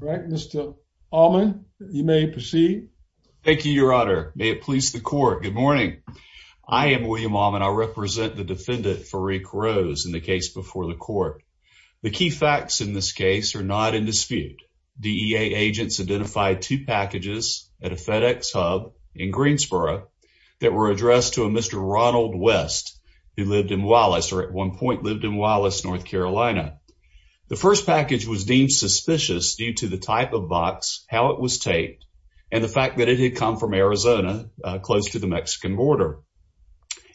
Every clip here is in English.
All right Mr. Allman you may proceed. Thank you your honor. May it please the court. Good morning I am William Allman. I represent the defendant Faruq Rose in the case before the court. The key facts in this case are not in dispute. DEA agents identified two packages at a FedEx hub in Greensboro that were addressed to a Mr. Ronald West who lived in Wallace or at one point lived North Carolina. The first package was deemed suspicious due to the type of box how it was taped and the fact that it had come from Arizona close to the Mexican border.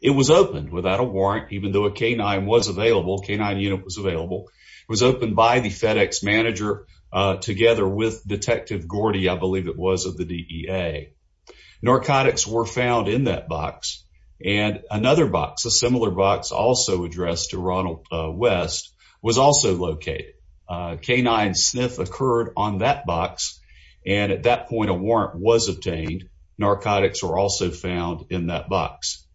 It was opened without a warrant even though a canine was available canine unit was available. It was opened by the FedEx manager together with Detective Gordy I believe it was of the DEA. Narcotics were found in that box and another box a similar box also addressed to Ronald West was also located. A canine sniff occurred on that box and at that point a warrant was obtained. Narcotics were also found in that box.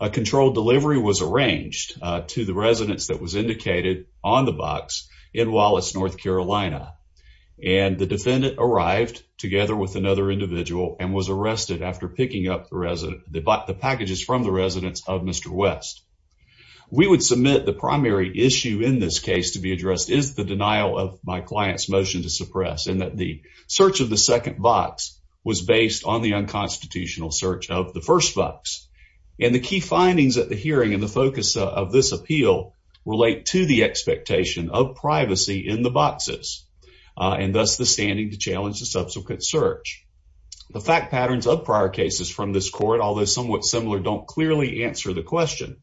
A controlled delivery was arranged to the residents that was indicated on the box in Wallace, North Carolina and the defendant arrived together with another individual and was arrested after picking up the packages from the residents of Mr. West. We would submit the primary issue in this case to be addressed is the denial of my client's motion to suppress and that the search of the second box was based on the unconstitutional search of the first box and the key findings at the hearing and the focus of this appeal relate to the expectation of privacy in the prior cases from this court although somewhat similar don't clearly answer the question.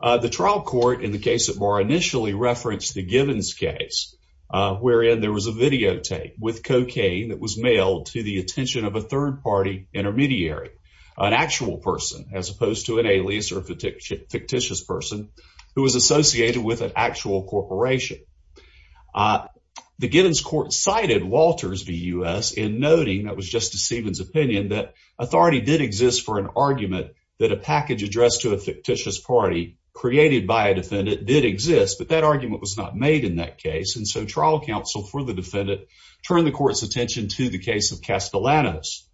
The trial court in the case of Barr initially referenced the Givens case wherein there was a videotape with cocaine that was mailed to the attention of a third party intermediary an actual person as opposed to an alias or a fictitious person who was associated with an actual corporation. The Givens court cited Walters v. U.S. in noting that was Justice Givens opinion that authority did exist for an argument that a package addressed to a fictitious party created by a defendant did exist but that argument was not made in that case and so trial counsel for the defendant turned the court's attention to the case of Castellanos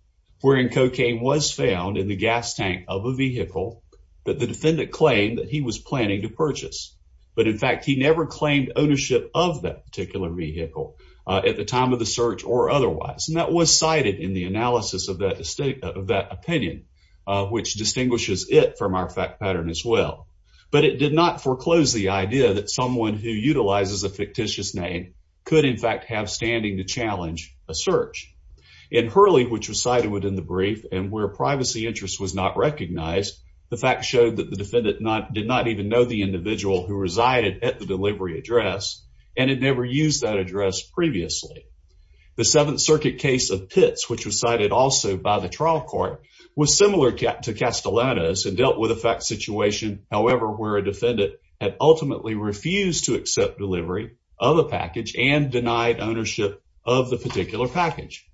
wherein cocaine was found in the gas tank of a vehicle that the defendant claimed that he was planning to purchase but in fact he never claimed ownership of that particular vehicle at the time of the search or otherwise and that was cited in the analysis of that state of that opinion which distinguishes it from our fact pattern as well but it did not foreclose the idea that someone who utilizes a fictitious name could in fact have standing to challenge a search. In Hurley which was cited within the brief and where privacy interest was not recognized the fact showed that the defendant not did not even know the individual who resided at the delivery address and had never used that address previously. The seventh circuit case of Pitts which was cited also by the trial court was similar to Castellanos and dealt with a fact situation however where a defendant had ultimately refused to accept delivery of a package and denied ownership of the particular package.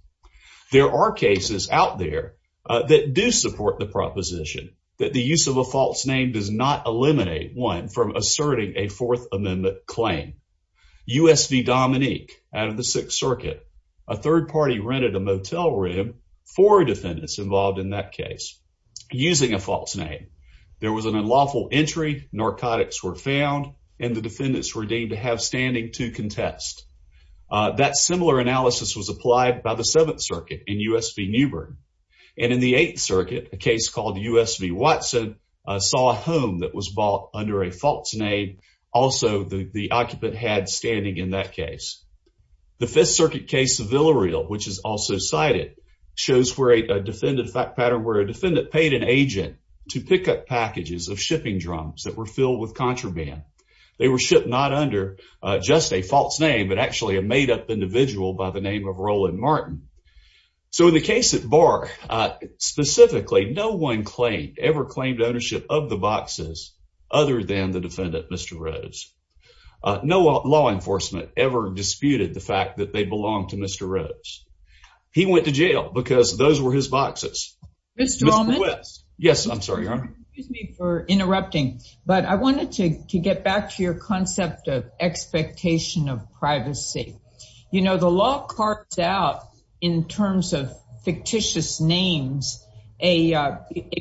There are cases out there that do support the proposition that the use of a false name does eliminate one from asserting a fourth amendment claim. U.S. v. Dominique out of the sixth circuit a third party rented a motel room for defendants involved in that case using a false name. There was an unlawful entry, narcotics were found and the defendants were deemed to have standing to contest. That similar analysis was applied by the seventh circuit in U.S. v. Newbern and in the eighth circuit a case called U.S. v. Watson saw a home that was bought under a false name. Also the occupant had standing in that case. The fifth circuit case of Villareal which is also cited shows where a defendant fact pattern where a defendant paid an agent to pick up packages of shipping drums that were filled with contraband. They were shipped not under just a false name but a made up individual by the name of Roland Martin. So in the case at Barr specifically no one claimed ever claimed ownership of the boxes other than the defendant Mr. Rose. No law enforcement ever disputed the fact that they belonged to Mr. Rose. He went to jail because those were his boxes. Yes I'm sorry your honor. Excuse me for interrupting but I wanted to get back to your concept of privacy. You know the law cards out in terms of fictitious names a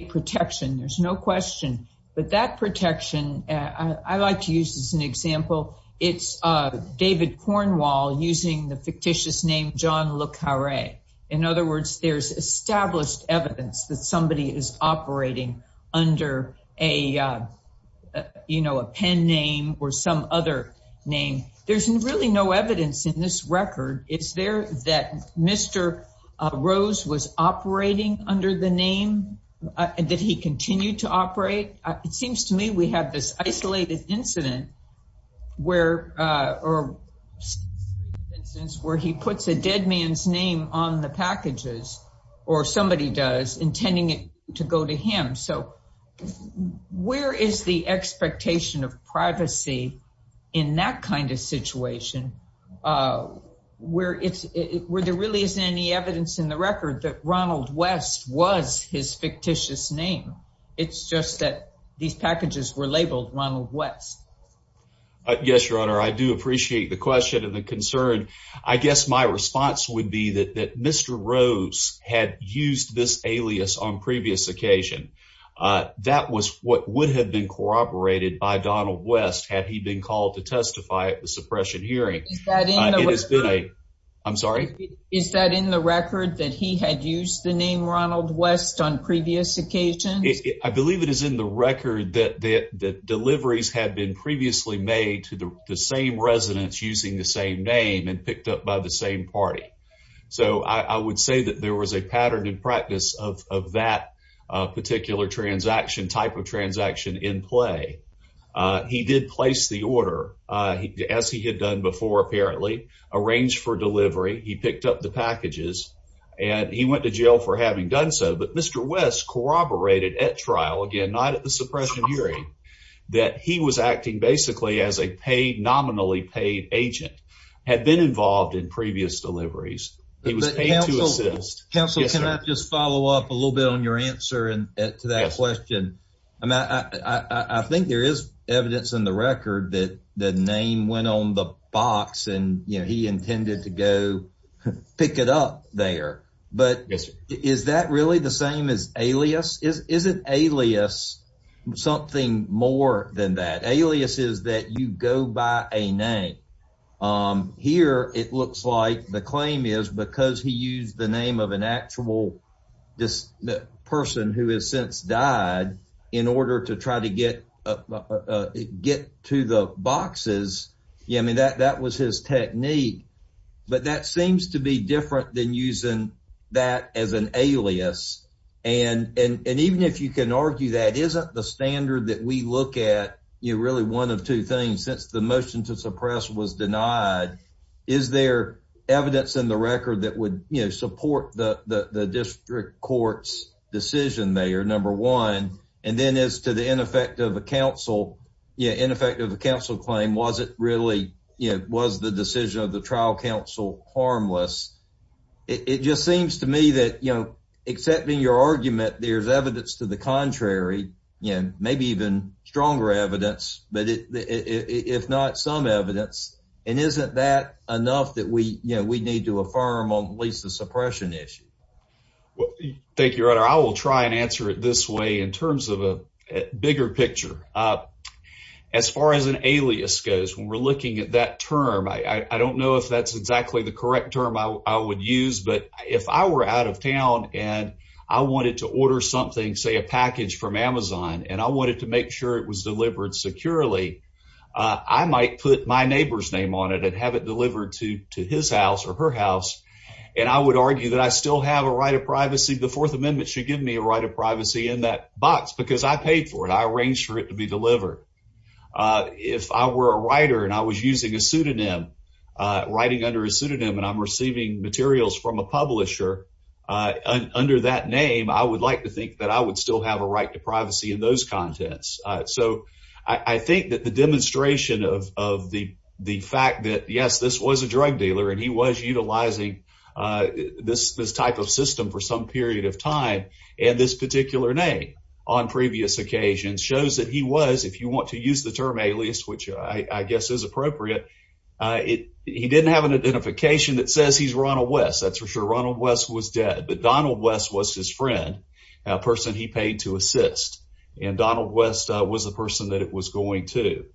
protection there's no question but that protection I like to use as an example it's David Cornwall using the fictitious name John Le Carré. In other words there's established evidence that somebody is operating under a you know a pen name or some other name. There's really no evidence in this record. Is there that Mr. Rose was operating under the name and that he continued to operate? It seems to me we have this isolated incident where or instance where he puts a dead man's name on the packages or somebody does intending it to go to him. So where is the expectation of privacy in that kind of situation where it's where there really isn't any evidence in the record that Ronald West was his fictitious name. It's just that these packages were labeled Ronald West. Yes your honor I do appreciate the question and the concern. I guess my response would be that Mr. Rose had used this alias on previous occasion. That was what would have been corroborated by Donald West had he been called to testify at the suppression hearing. I'm sorry is that in the record that he had used the name Ronald West on previous occasions? I believe it is in the record that the deliveries had been previously made to the same residents using the same name and picked up by the same party. So I would say that there was a pattern in practice of that particular transaction type of transaction in play. He did place the order as he had done before apparently arranged for delivery. He picked up the packages and he went to jail for having done so. But Mr. West corroborated at trial again not at the agent had been involved in previous deliveries. He was paid to assist. Counselor can I just follow up a little bit on your answer and to that question? I mean I think there is evidence in the record that the name went on the box and you know he intended to go pick it up there. But is that really the same as alias? Isn't alias something more than that? Alias is that you go by a name. Here it looks like the claim is because he used the name of an actual person who has since died in order to try to get to the boxes. Yeah I mean that was his technique. But that seems to be different than using that as an alias. And even if you can argue that isn't the standard that we look at you really one of two things. Since the motion to suppress was denied is there evidence in the record that would you know support the the district court's decision there number one. And then as to the ineffective counsel yeah ineffective counsel claim was it really you know was the decision of the trial counsel harmless. It just you know maybe even stronger evidence but if not some evidence and isn't that enough that we you know we need to affirm on at least the suppression issue. Well thank you your honor. I will try and answer it this way in terms of a bigger picture. As far as an alias goes when we're looking at that term I don't know if that's exactly the correct term I would use. But if I were out of and I wanted to make sure it was delivered securely I might put my neighbor's name on it and have it delivered to to his house or her house. And I would argue that I still have a right of privacy. The fourth amendment should give me a right of privacy in that box because I paid for it. I arranged for it to be delivered. If I were a writer and I was using a pseudonym writing under a pseudonym and I'm receiving materials from a publisher uh under that name I would like to think that I would still have a right to privacy in those contents. So I think that the demonstration of of the the fact that yes this was a drug dealer and he was utilizing uh this this type of system for some period of time and this particular name on previous occasions shows that he was if you want to use the term alias which I guess is appropriate uh it he didn't have an identification that says he's Ronald West that's for sure Ronald West was dead but Donald West was his friend a person he paid to assist and Donald West was the person that it was going to.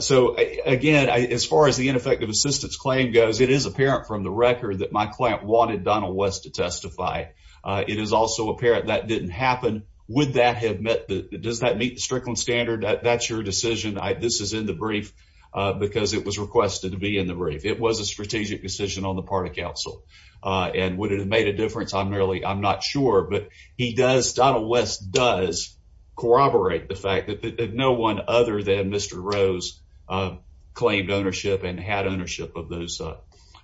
So again as far as the ineffective assistance claim goes it is apparent from the record that my client wanted Donald West to testify. It is also apparent that didn't happen would that have met the does that meet the Strickland standard that that's your decision this is in the brief because it was requested to be in the brief it was a strategic decision on the part of council uh and would it have made a difference I'm really I'm not sure but he does Donald West does corroborate the fact that no one other than Mr. Rose claimed ownership and had ownership of those uh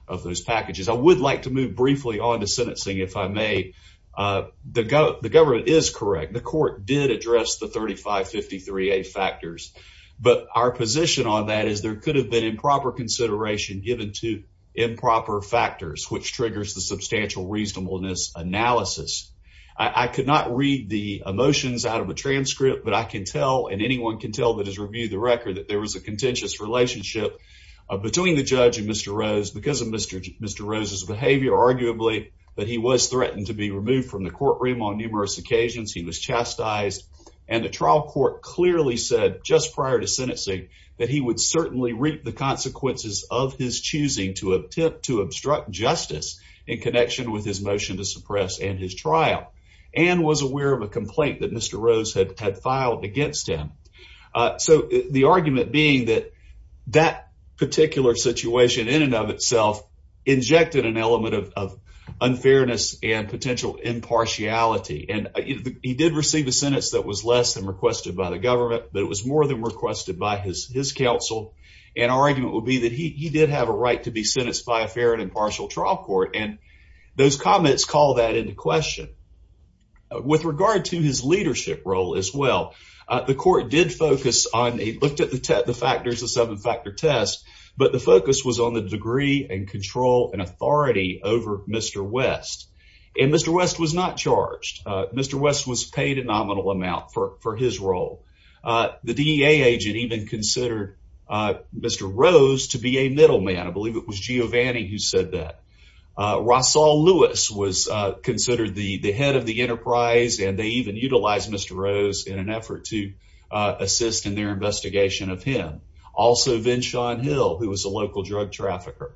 of those packages. I would like to move briefly on to sentencing if I uh the government is correct the court did address the 3553a factors but our position on that is there could have been improper consideration given to improper factors which triggers the substantial reasonableness analysis. I could not read the emotions out of a transcript but I can tell and anyone can tell that has reviewed the record that there was a contentious relationship between the judge and Mr. Rose because of Mr. Mr. Rose's behavior arguably but he was threatened to be removed from the courtroom on numerous occasions he was chastised and the trial court clearly said just prior to sentencing that he would certainly reap the consequences of his choosing to attempt to obstruct justice in connection with his motion to suppress and his trial and was aware of a complaint that Mr. Rose had had filed against him so the argument being that that particular situation in and of itself injected an element of unfairness and potential impartiality and he did receive a sentence that was less than requested by the government but it was more than requested by his his counsel and our argument would be that he did have a right to be sentenced by a fair and impartial trial court and those comments call that into with regard to his leadership role as well the court did focus on a looked at the the factors the seven factor test but the focus was on the degree and control and authority over Mr. West and Mr. West was not charged Mr. West was paid a nominal amount for for his role the DEA agent even considered Mr. Rose to be a middleman I believe it was Giovanni who said that Rosal Lewis was considered the the head of the enterprise and they even utilized Mr. Rose in an effort to assist in their investigation of him also Vin Sean Hill who was a local drug trafficker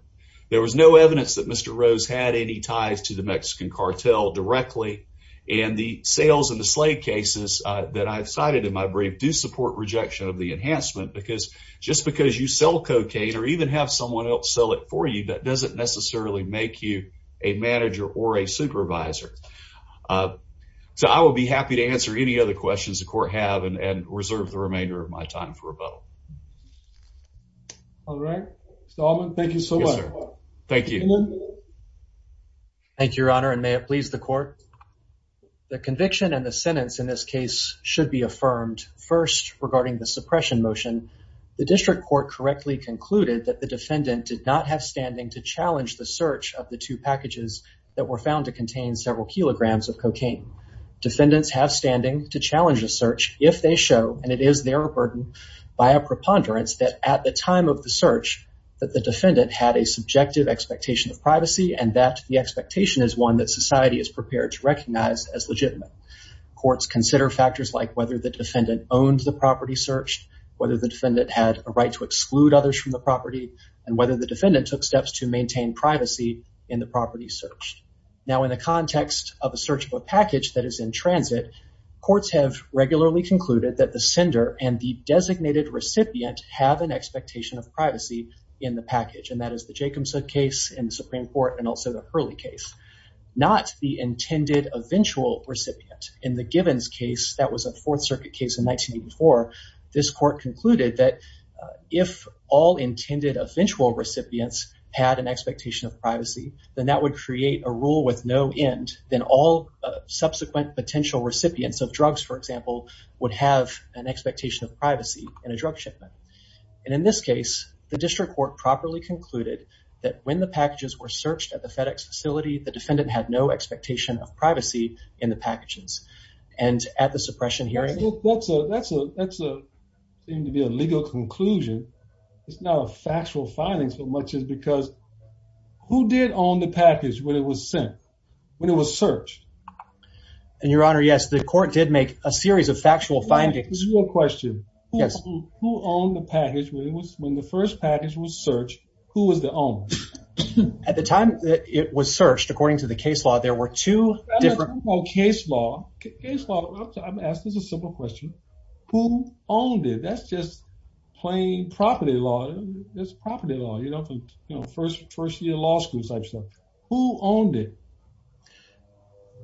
there was no evidence that Mr. Rose had any ties to the Mexican cartel directly and the sales and the slave cases that I've cited in my brief do support rejection of the enhancement because just because you sell cocaine or even have someone else sell it for you that doesn't necessarily make you a manager or a supervisor so I will be happy to answer any other questions the court have and reserve the remainder of my time for rebuttal all right Mr. Allman thank you so much thank you thank you your honor and may it please the court the conviction and the sentence in this case should be affirmed first regarding the suppression motion the district court correctly concluded that the defendant did not have standing to challenge the search of the two packages that were found to contain several kilograms of cocaine defendants have standing to challenge a search if they show and it is their burden by a preponderance that at the time of the search that the defendant had a subjective expectation of privacy and that the expectation is one that society is prepared to recognize as legitimate courts consider factors like whether the defendant owned the property searched whether the defendant had a right to exclude others from the property and whether the defendant took steps to maintain privacy in the property searched now in the context of a search of a package that is in transit courts have regularly concluded that the sender and the designated recipient have an expectation of privacy in the package and that is the Jacobson case in the Supreme Court and also the Hurley case not the intended eventual recipient in the this court concluded that if all intended eventual recipients had an expectation of privacy then that would create a rule with no end then all subsequent potential recipients of drugs for example would have an expectation of privacy in a drug shipment and in this case the district court properly concluded that when the packages were searched at the FedEx facility the defendant had no privacy in the packages and at the suppression hearing that's a that's a that's a seem to be a legal conclusion it's not a factual finding so much as because who did own the package when it was sent when it was searched and your honor yes the court did make a series of factual findings this is your question yes who owned the package when it was when the first package was searched who was the owner at the time that it was searched according to the case law there were two different case law case law i'm asked this is a simple question who owned it that's just plain property law that's property law you know from you know first first year law school type stuff who owned it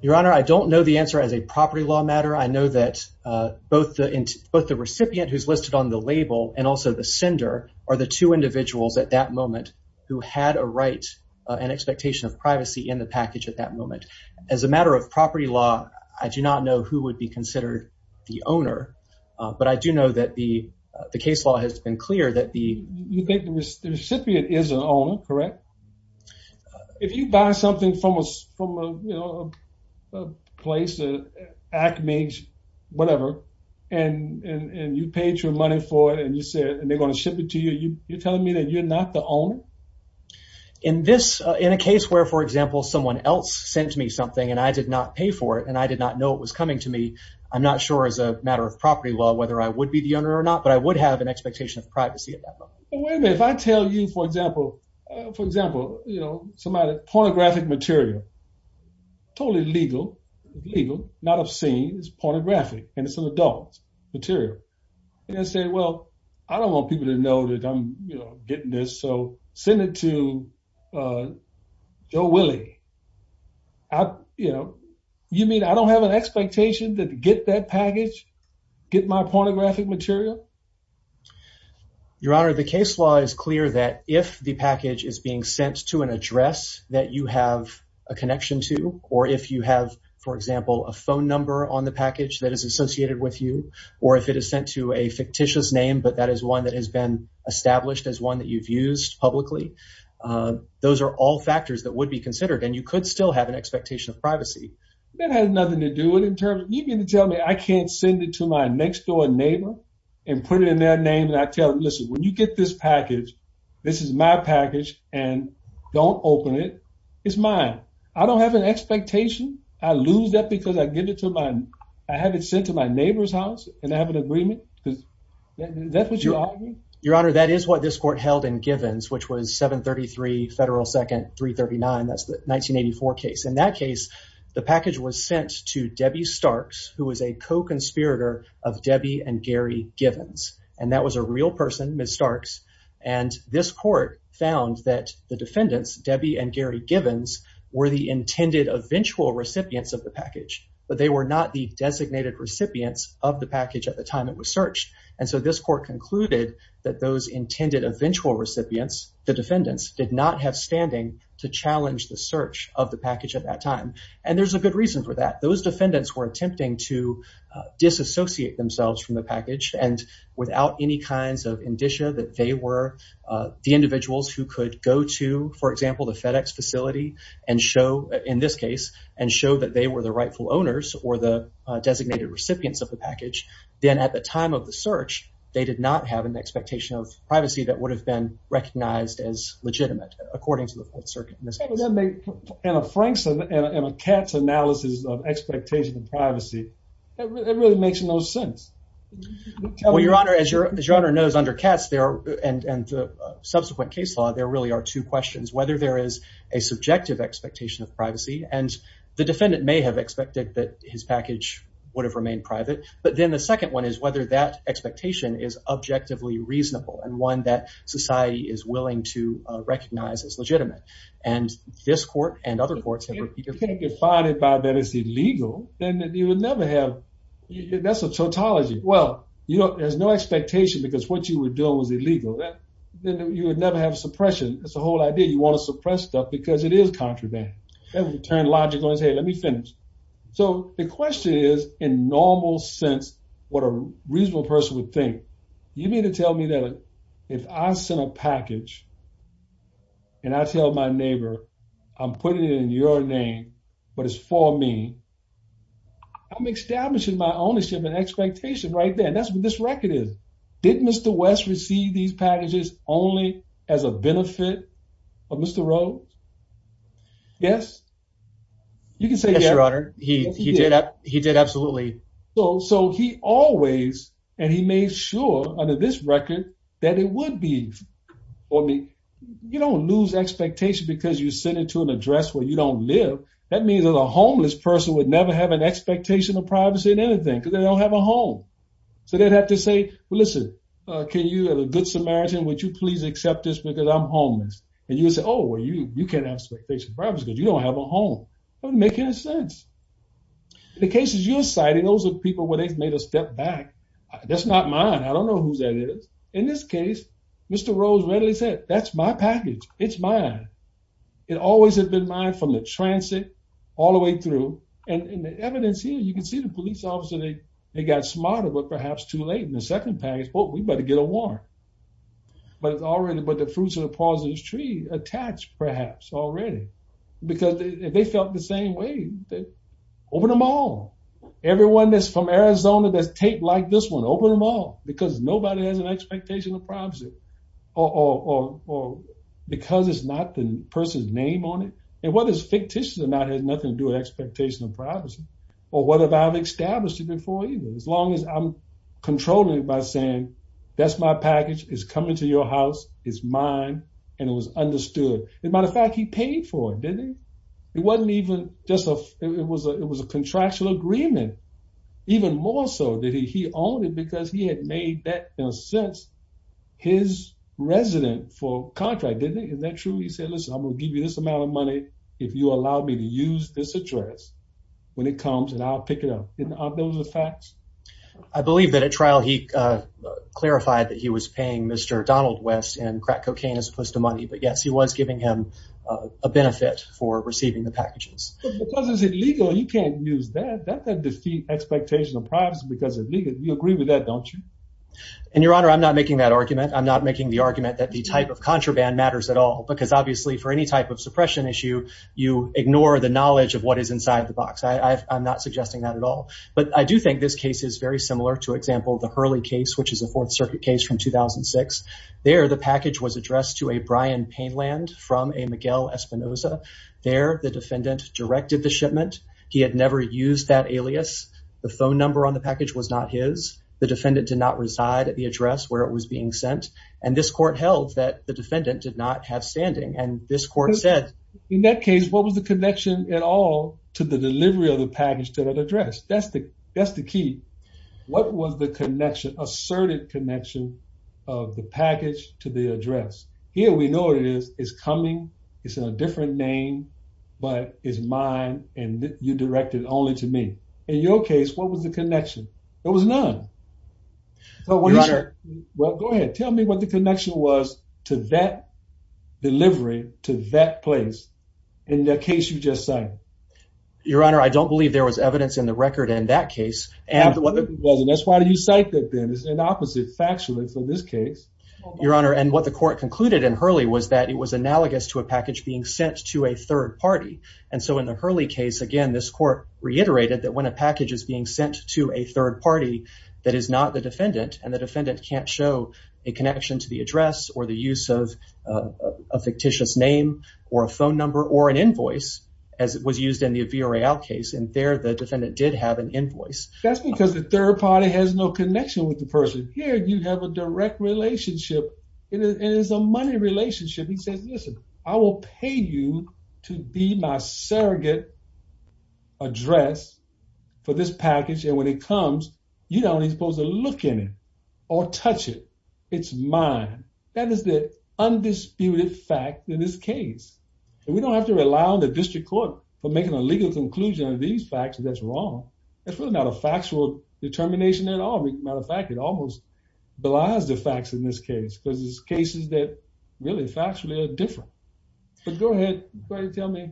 your honor i don't know the answer as a property law matter i know that uh both the both the who had a right and expectation of privacy in the package at that moment as a matter of property law i do not know who would be considered the owner but i do know that the the case law has been clear that the you think the recipient is an owner correct if you buy something from us from a you know a place a acme whatever and and and you paid your money for it and you said and they're going to ship it to you you're telling me that you're the owner in this in a case where for example someone else sent me something and i did not pay for it and i did not know it was coming to me i'm not sure as a matter of property law whether i would be the owner or not but i would have an expectation of privacy at that moment wait a minute if i tell you for example for example you know somebody pornographic material totally legal legal not obscene it's pornographic and it's an adult material and i say well i don't want people to know that i'm you know getting this so send it to uh joe willie i you know you mean i don't have an expectation to get that package get my pornographic material your honor the case law is clear that if the package is being sent to an address that you have a connection to or if you have for example a phone number on the package that is associated with you or if it is sent to a fictitious name but that is one that has been established as one that you've used publicly those are all factors that would be considered and you could still have an expectation of privacy that has nothing to do with in terms of you're going to tell me i can't send it to my next door neighbor and put it in their name and i tell them listen when you get this package this is my package and don't open it it's mine i don't have an expectation i lose that because i get it to my i have it sent to my neighbor's house and i have an agreement because that's what you're your honor that is what this court held in givens which was 733 federal second 339 that's the 1984 case in that case the package was sent to debbie starks who was a co-conspirator of debbie and gary givens and that was a real person ms starks and this court found that the defendants debbie and gary givens were the intended eventual recipients of the package but they were not the designated recipients of the package at the time it was searched and so this court concluded that those intended eventual recipients the defendants did not have standing to challenge the search of the package at that time and there's a good reason for that those defendants were attempting to disassociate themselves from the package and without any kinds of indicia that they were the individuals who could go to for example the fedex facility and show in this case and show that they were the rightful owners or the designated recipients of the package then at the time of the search they did not have an expectation of privacy that would have been recognized as legitimate according to the circuit and a frankson and a cat's analysis of expectation of privacy it really makes no sense well your honor as your as your honor knows under cats there and and the subsequent case law there really are two questions whether there is a subjective expectation of privacy and the defendant may have expected that his package would have remained private but then the second one is whether that expectation is objectively reasonable and one that society is willing to recognize as legitimate and this court and other courts have been defined by that it's illegal then you would never have that's a tautology well there's no expectation because what you were doing was illegal then you would never have suppression that's the whole idea you want to suppress stuff because it is contraband that would turn logical and say let me finish so the question is in normal sense what a reasonable person would think you mean to tell me that if i sent a package and i tell my neighbor i'm putting it in your name but it's for me i'm establishing my ownership and did mr west receive these packages only as a benefit of mr rose yes you can say yes your honor he he did he did absolutely so so he always and he made sure under this record that it would be for me you don't lose expectation because you send it to an address where you don't live that means that a homeless person would never have an expectation of privacy in anything because they don't have a home so they'd have to say well listen uh can you have a good samaritan would you please accept this because i'm homeless and you say oh well you you can't have special privacy because you don't have a home doesn't make any sense the cases you're citing those are people where they've made a step back that's not mine i don't know who that is in this case mr rose readily said that's my package it's mine it always has been mine from the transit all the way through and in the evidence here you can see the police officer they they got smarter but perhaps too late in the second package oh we better get a warrant but it's already but the fruits of the pauses tree attached perhaps already because they felt the same way that open them all everyone that's from arizona that's taped like this one open them all because nobody has an expectation of privacy or or because it's not the person's name on it and fictitious or not has nothing to do with expectation of privacy or whatever i've established it before either as long as i'm controlling it by saying that's my package is coming to your house it's mine and it was understood and by the fact he paid for it didn't it wasn't even just a it was a it was a contractual agreement even more so that he owned it because he had made that in a sense his resident for contract didn't is that true he said listen i'm gonna give you this amount of money if you allow me to use this address when it comes and i'll pick it up didn't are those the facts i believe that at trial he uh clarified that he was paying mr donald west and crack cocaine as opposed to money but yes he was giving him a benefit for receiving the packages because it's illegal you can't use that that could defeat expectation of privacy because it's legal you agree with that don't you and your honor i'm not making that argument i'm not making the argument that the type of contraband matters at all because obviously for any type of suppression issue you ignore the knowledge of what is inside the box i i'm not suggesting that at all but i do think this case is very similar to example the hurley case which is a fourth circuit case from 2006 there the package was addressed to a brian pain land from a miguel espinoza there the defendant directed the shipment he had never used that alias the phone number on the package was not his the defendant did not reside at the standing and this court said in that case what was the connection at all to the delivery of the package to that address that's the that's the key what was the connection asserted connection of the package to the address here we know what it is is coming it's in a different name but it's mine and you directed only to me in your case what was the connection there was none so well go ahead tell me what the connection was to that delivery to that place in the case you just said your honor i don't believe there was evidence in the record in that case and that's why do you cite that then it's an opposite factually for this case your honor and what the court concluded in hurley was that it was analogous to a package being sent to a third party and so in the hurley case again this court reiterated that when a package is being sent to a third party that is not the defendant and the defendant can't show a connection to the address or the use of a fictitious name or a phone number or an invoice as it was used in the vrl case and there the defendant did have an invoice that's because the third party has no connection with the person here you have a direct relationship it is a money relationship he says i will pay you to be my surrogate address for this package and when it comes you don't even supposed to look in it or touch it it's mine that is the undisputed fact in this case and we don't have to rely on the district court for making a legal conclusion of these facts that's wrong it's really not a factual determination at all matter of fact it almost belies the facts in this case because there's cases that really factually are different but go ahead tell me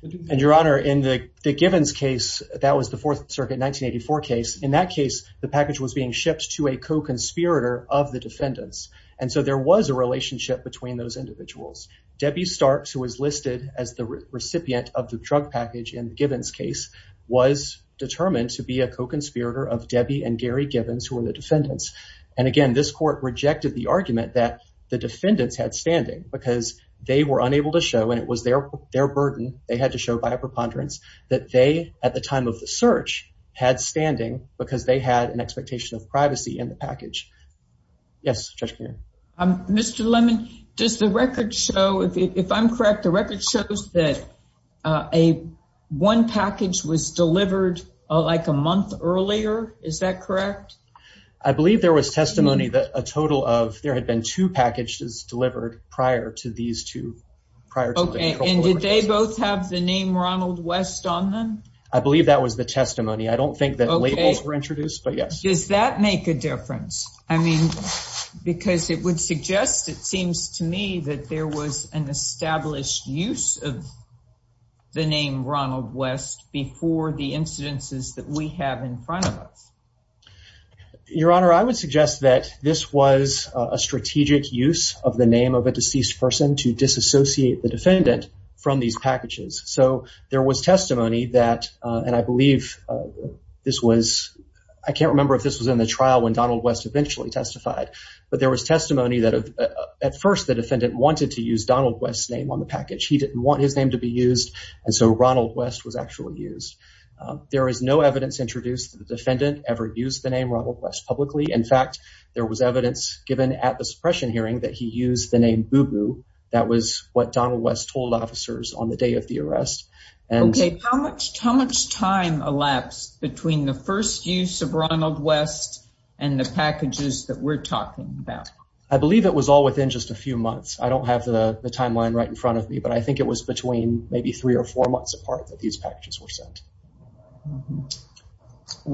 and your honor in the gibbons case that was the fourth circuit 1984 case in that case the package was being shipped to a co-conspirator of the defendants and so there was a relationship between those individuals debbie starks who was listed as the recipient of the drug package in gibbons case was determined to be a co-conspirator of debbie and gary gibbons who were the defendants and again this court rejected the argument that the defendants had standing because they were unable to show and it was their their burden they had to show by a preponderance that they at the time of the search had standing because they had an expectation of privacy in the package yes judge mr lemon does the record show if i'm correct the record shows that uh a one package was delivered like a month earlier is that correct i believe there was testimony that a total of there had been two packages delivered prior to these two prior okay and did they both have the name ronald west on them i believe that was the testimony i don't think that labels were introduced but yes does that make a difference i mean because it would suggest it seems to me that there was an established use of the name ronald west before the incidences that we have in front of us your honor i would suggest that this was a strategic use of the name of a deceased person to disassociate the defendant from these packages so there was testimony that and i believe this was i can't remember if this was in the trial when testimony that at first the defendant wanted to use donald west's name on the package he didn't want his name to be used and so ronald west was actually used there is no evidence introduced the defendant ever used the name ronald west publicly in fact there was evidence given at the suppression hearing that he used the name boo-boo that was what donald west told officers on the day of the arrest and okay how much how much time elapsed between the first use of ronald west and the packages that we're talking about i believe it was all within just a few months i don't have the timeline right in front of me but i think it was between maybe three or four months apart that these packages were sent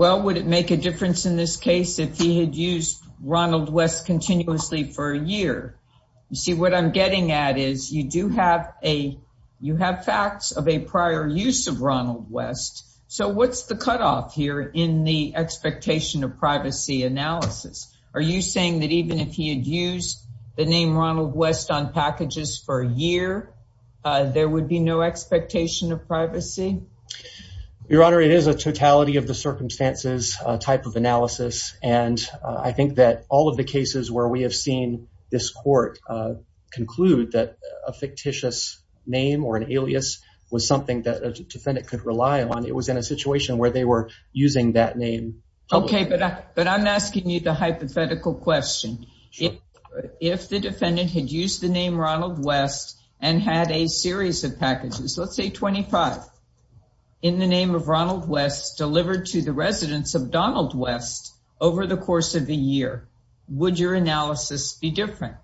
well would it make a difference in this case if he had used ronald west continuously for a year you see what i'm getting at is you do have a you have facts of prior use of ronald west so what's the cutoff here in the expectation of privacy analysis are you saying that even if he had used the name ronald west on packages for a year there would be no expectation of privacy your honor it is a totality of the circumstances a type of analysis and i think that all of the cases where we have seen this court uh conclude that a fictitious name or an alias was something that a defendant could rely on it was in a situation where they were using that name okay but but i'm asking you the hypothetical question if the defendant had used the name ronald west and had a series of packages let's say 25 in the name of ronald west delivered to the residents of donald west over the course of a year would your analysis be different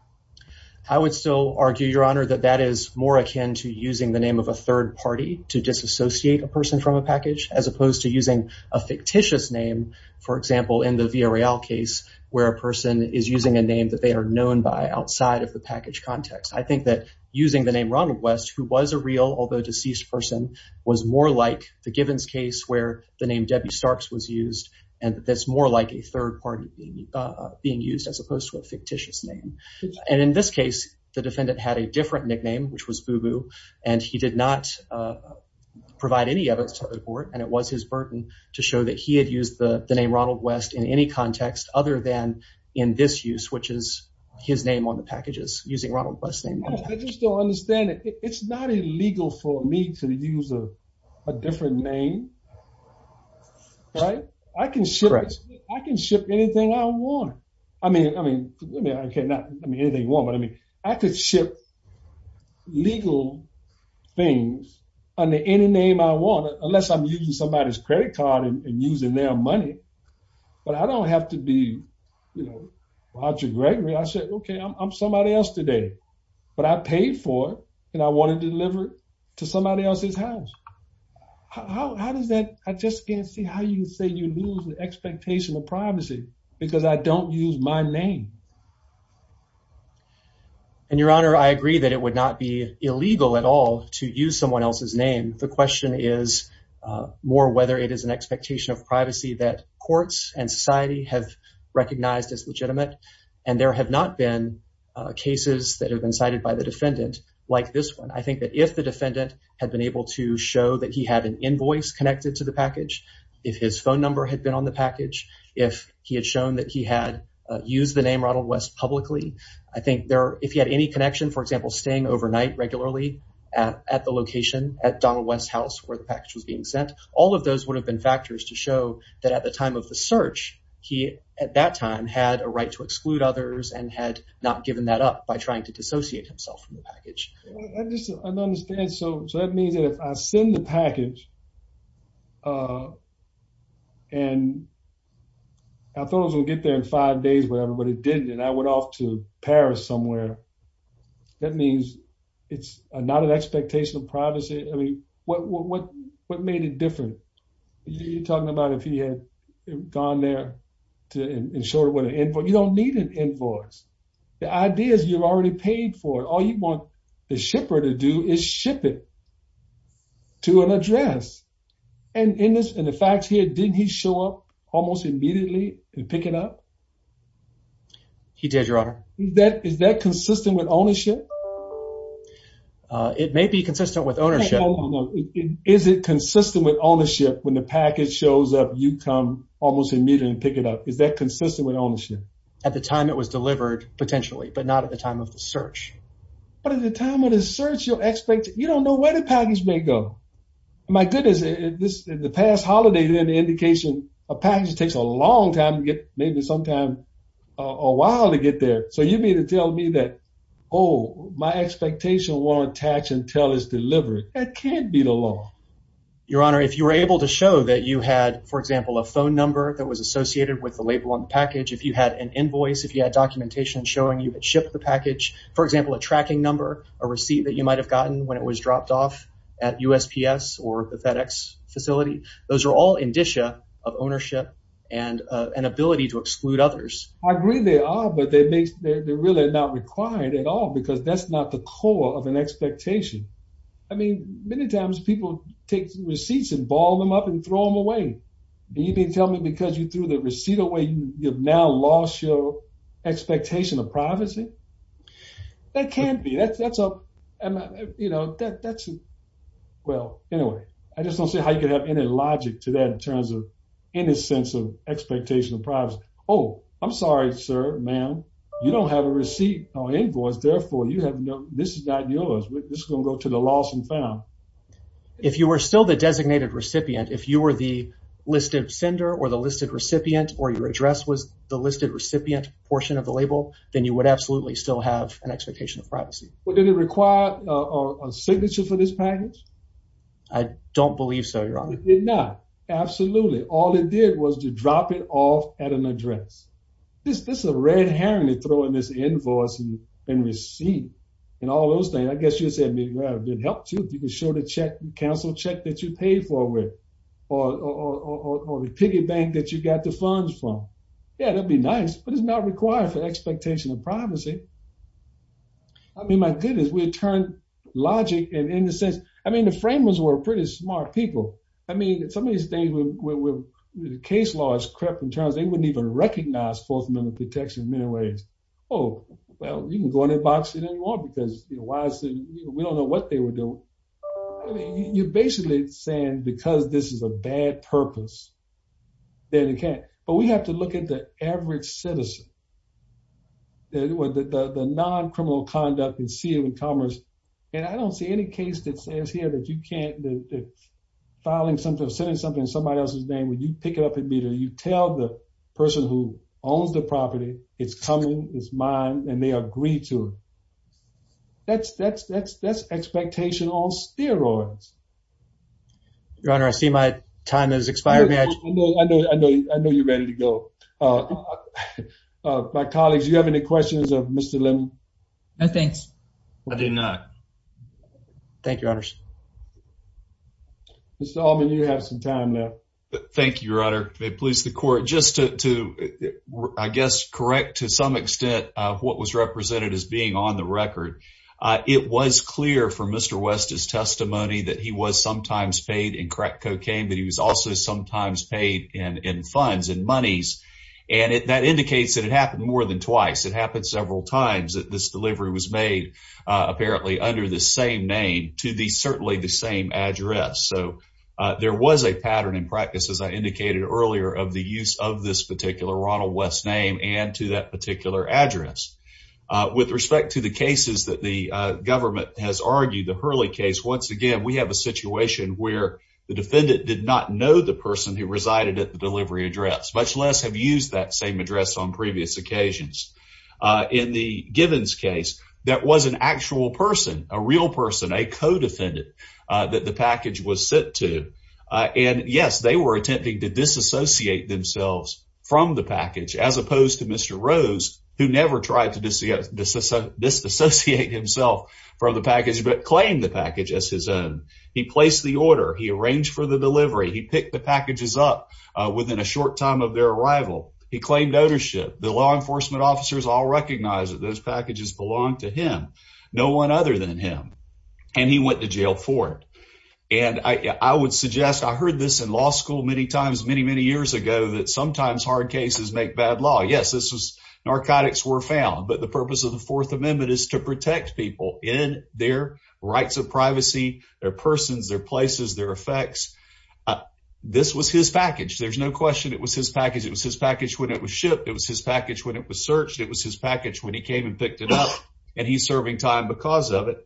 i would still argue your honor that that is more akin to using the name of a third party to disassociate a person from a package as opposed to using a fictitious name for example in the vrl case where a person is using a name that they are known by outside of the package context i think that using the name ronald west who was a real although deceased person was more like the givens case where the name debbie starks was used and that's more like a third party being used as opposed to a fictitious name and in this case the defendant had a different nickname which was boo-boo and he did not provide any evidence to the court and it was his burden to show that he had used the the name ronald west in any context other than in this use which is his name on the packages using ronald west name i just don't understand it it's not illegal for me to use a different name right i can ship i can ship anything i want i mean i mean forgive me i cannot i mean anything you want but i mean i could ship legal things under any name i want unless i'm using somebody's credit card and using their money but i don't have to be you know roger gregory i said okay i'm somebody else today but i paid for it and i wanted to deliver it to somebody else's house how does that i just can't see how you say you lose the expectation of privacy because i don't use my name and your honor i agree that it would not be illegal at all to use someone else's name the question is uh more whether it is an expectation of privacy that courts and society have recognized as legitimate and there have not been uh cases that have been cited by the defendant like this one i think that if the defendant had been able to show that he had an invoice connected to the package if his phone number had been on the package if he had shown that he had used the name ronald west publicly i think there if he had any connection for example staying overnight regularly at at the location at donald west house where the package was being sent all of those have been factors to show that at the time of the search he at that time had a right to exclude others and had not given that up by trying to dissociate himself from the package i just don't understand so so that means that if i send the package uh and i thought i was gonna get there in five days whatever but it didn't and i went off to paris somewhere that means it's not an privacy i mean what what what made it different you're talking about if he had gone there to ensure what an invoice you don't need an invoice the idea is you've already paid for it all you want the shipper to do is ship it to an address and in this and the facts here didn't he show up almost immediately and pick it up he did your honor that is that consistent with consistent with ownership is it consistent with ownership when the package shows up you come almost immediately and pick it up is that consistent with ownership at the time it was delivered potentially but not at the time of the search but at the time of the search you'll expect you don't know where the package may go my goodness this is the past holiday then the indication a package takes a long time to get maybe sometime a while to get there so you need to tell me that oh my expectation won't attach until it's delivered that can't be the law your honor if you were able to show that you had for example a phone number that was associated with the label on the package if you had an invoice if you had documentation showing you had shipped the package for example a tracking number a receipt that you might have gotten when it was dropped off at usps or the fedex facility those are all indicia of ownership and an ability to exclude others i agree they are but they make they're really not required at all because that's not the core of an expectation i mean many times people take receipts and ball them up and throw them away do you mean tell me because you threw the receipt away you've now lost your expectation of privacy that can't be that's that's a you know that that's well anyway i just don't see how you have any logic to that in terms of any sense of expectation of privacy oh i'm sorry sir ma'am you don't have a receipt or invoice therefore you have no this is not yours this is going to go to the loss and found if you were still the designated recipient if you were the listed sender or the listed recipient or your address was the listed recipient portion of the label then you would absolutely still have an expectation of privacy well did it require a signature for this package i don't believe so you're on it did not absolutely all it did was to drop it off at an address this this is a red herring to throw in this invoice and receive and all those things i guess you said me well it helped you to be sure to check the council check that you paid for with or or the piggy bank that you got the funds from yeah that'd be nice but it's not required for expectation of privacy i mean my goodness we turned logic and in the sense i mean the framers were pretty smart people i mean somebody stayed with the case law is crept in terms they wouldn't even recognize fourth amendment protection in many ways oh well you can go in their box you didn't want because you know why we don't know what they were doing i mean you're basically saying because this is a bad purpose then it can't but we have to look at the average citizen the non-criminal conduct and see it with commerce and i don't see any case that says here that you can't that filing something sending something in somebody else's name when you pick it up and meet her you tell the person who owns the property it's coming it's mine and they agree to it that's that's that's that's expectation on steroids your honor i see my time has expired i know i know i know you're ready to go uh uh my colleagues you have any questions of mr lim no thanks i did not thank you honors mr allman you have some time now thank you your honor may please the court just to to i guess correct to some extent uh what was represented as being on the record uh it was clear from mr west's testimony that he was sometimes paid in crack cocaine but he was also sometimes paid in in funds and monies and that indicates that it happened more than twice it happened several times that this delivery was made uh apparently under the same name to the certainly the same address so uh there was a pattern in practice as i indicated earlier of the use of this particular ronald west's name and to that particular address uh with respect to the cases that the uh government has argued the hurley case once again we have a situation where the defendant did not know the person who resided at the delivery address much less have used that same address on previous occasions uh in the gibbons case that was an actual person a real person a co-defendant uh that the package was sent to uh and yes they were attempting to disassociate themselves from the package as opposed to mr rose who never tried to disassociate himself from the package but claim the package as his own he placed the order he arranged for the delivery he picked the packages up within a short time of their arrival he claimed ownership the law enforcement officers all recognize that those packages belong to him no one other than him and he went to jail for it and i i would suggest i heard this in law school many times many many years ago that sometimes hard cases make bad law yes this was narcotics were found but the purpose of the fourth amendment is to protect people in their rights of privacy their persons their places their effects this was his package there's no question it was his package it was his package when it was shipped it was his package when it was searched it was his package when he came and picked it up and he's serving time because of it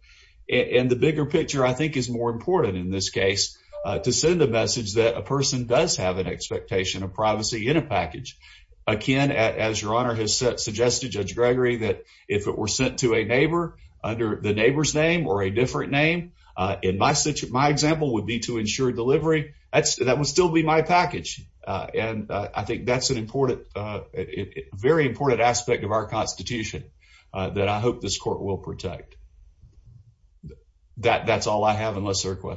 and the bigger picture i think is more important in this case to send a message that a person does have an expectation of privacy in a package akin as your honor has suggested judge gregory that if it were sent to a neighbor under the neighbor's name or a different name uh in my such my example would be to ensure delivery that's that would still be my package uh and i think that's an important uh very important aspect of our constitution uh that i hope this court will protect that that's all i have unless there are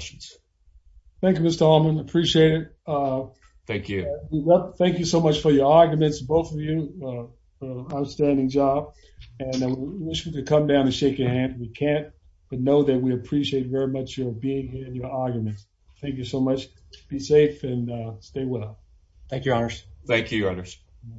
arguments both of you uh outstanding job and i wish we could come down and shake your hand we can't but know that we appreciate very much your being here and your arguments thank you so much be safe and stay well thank you honors thank you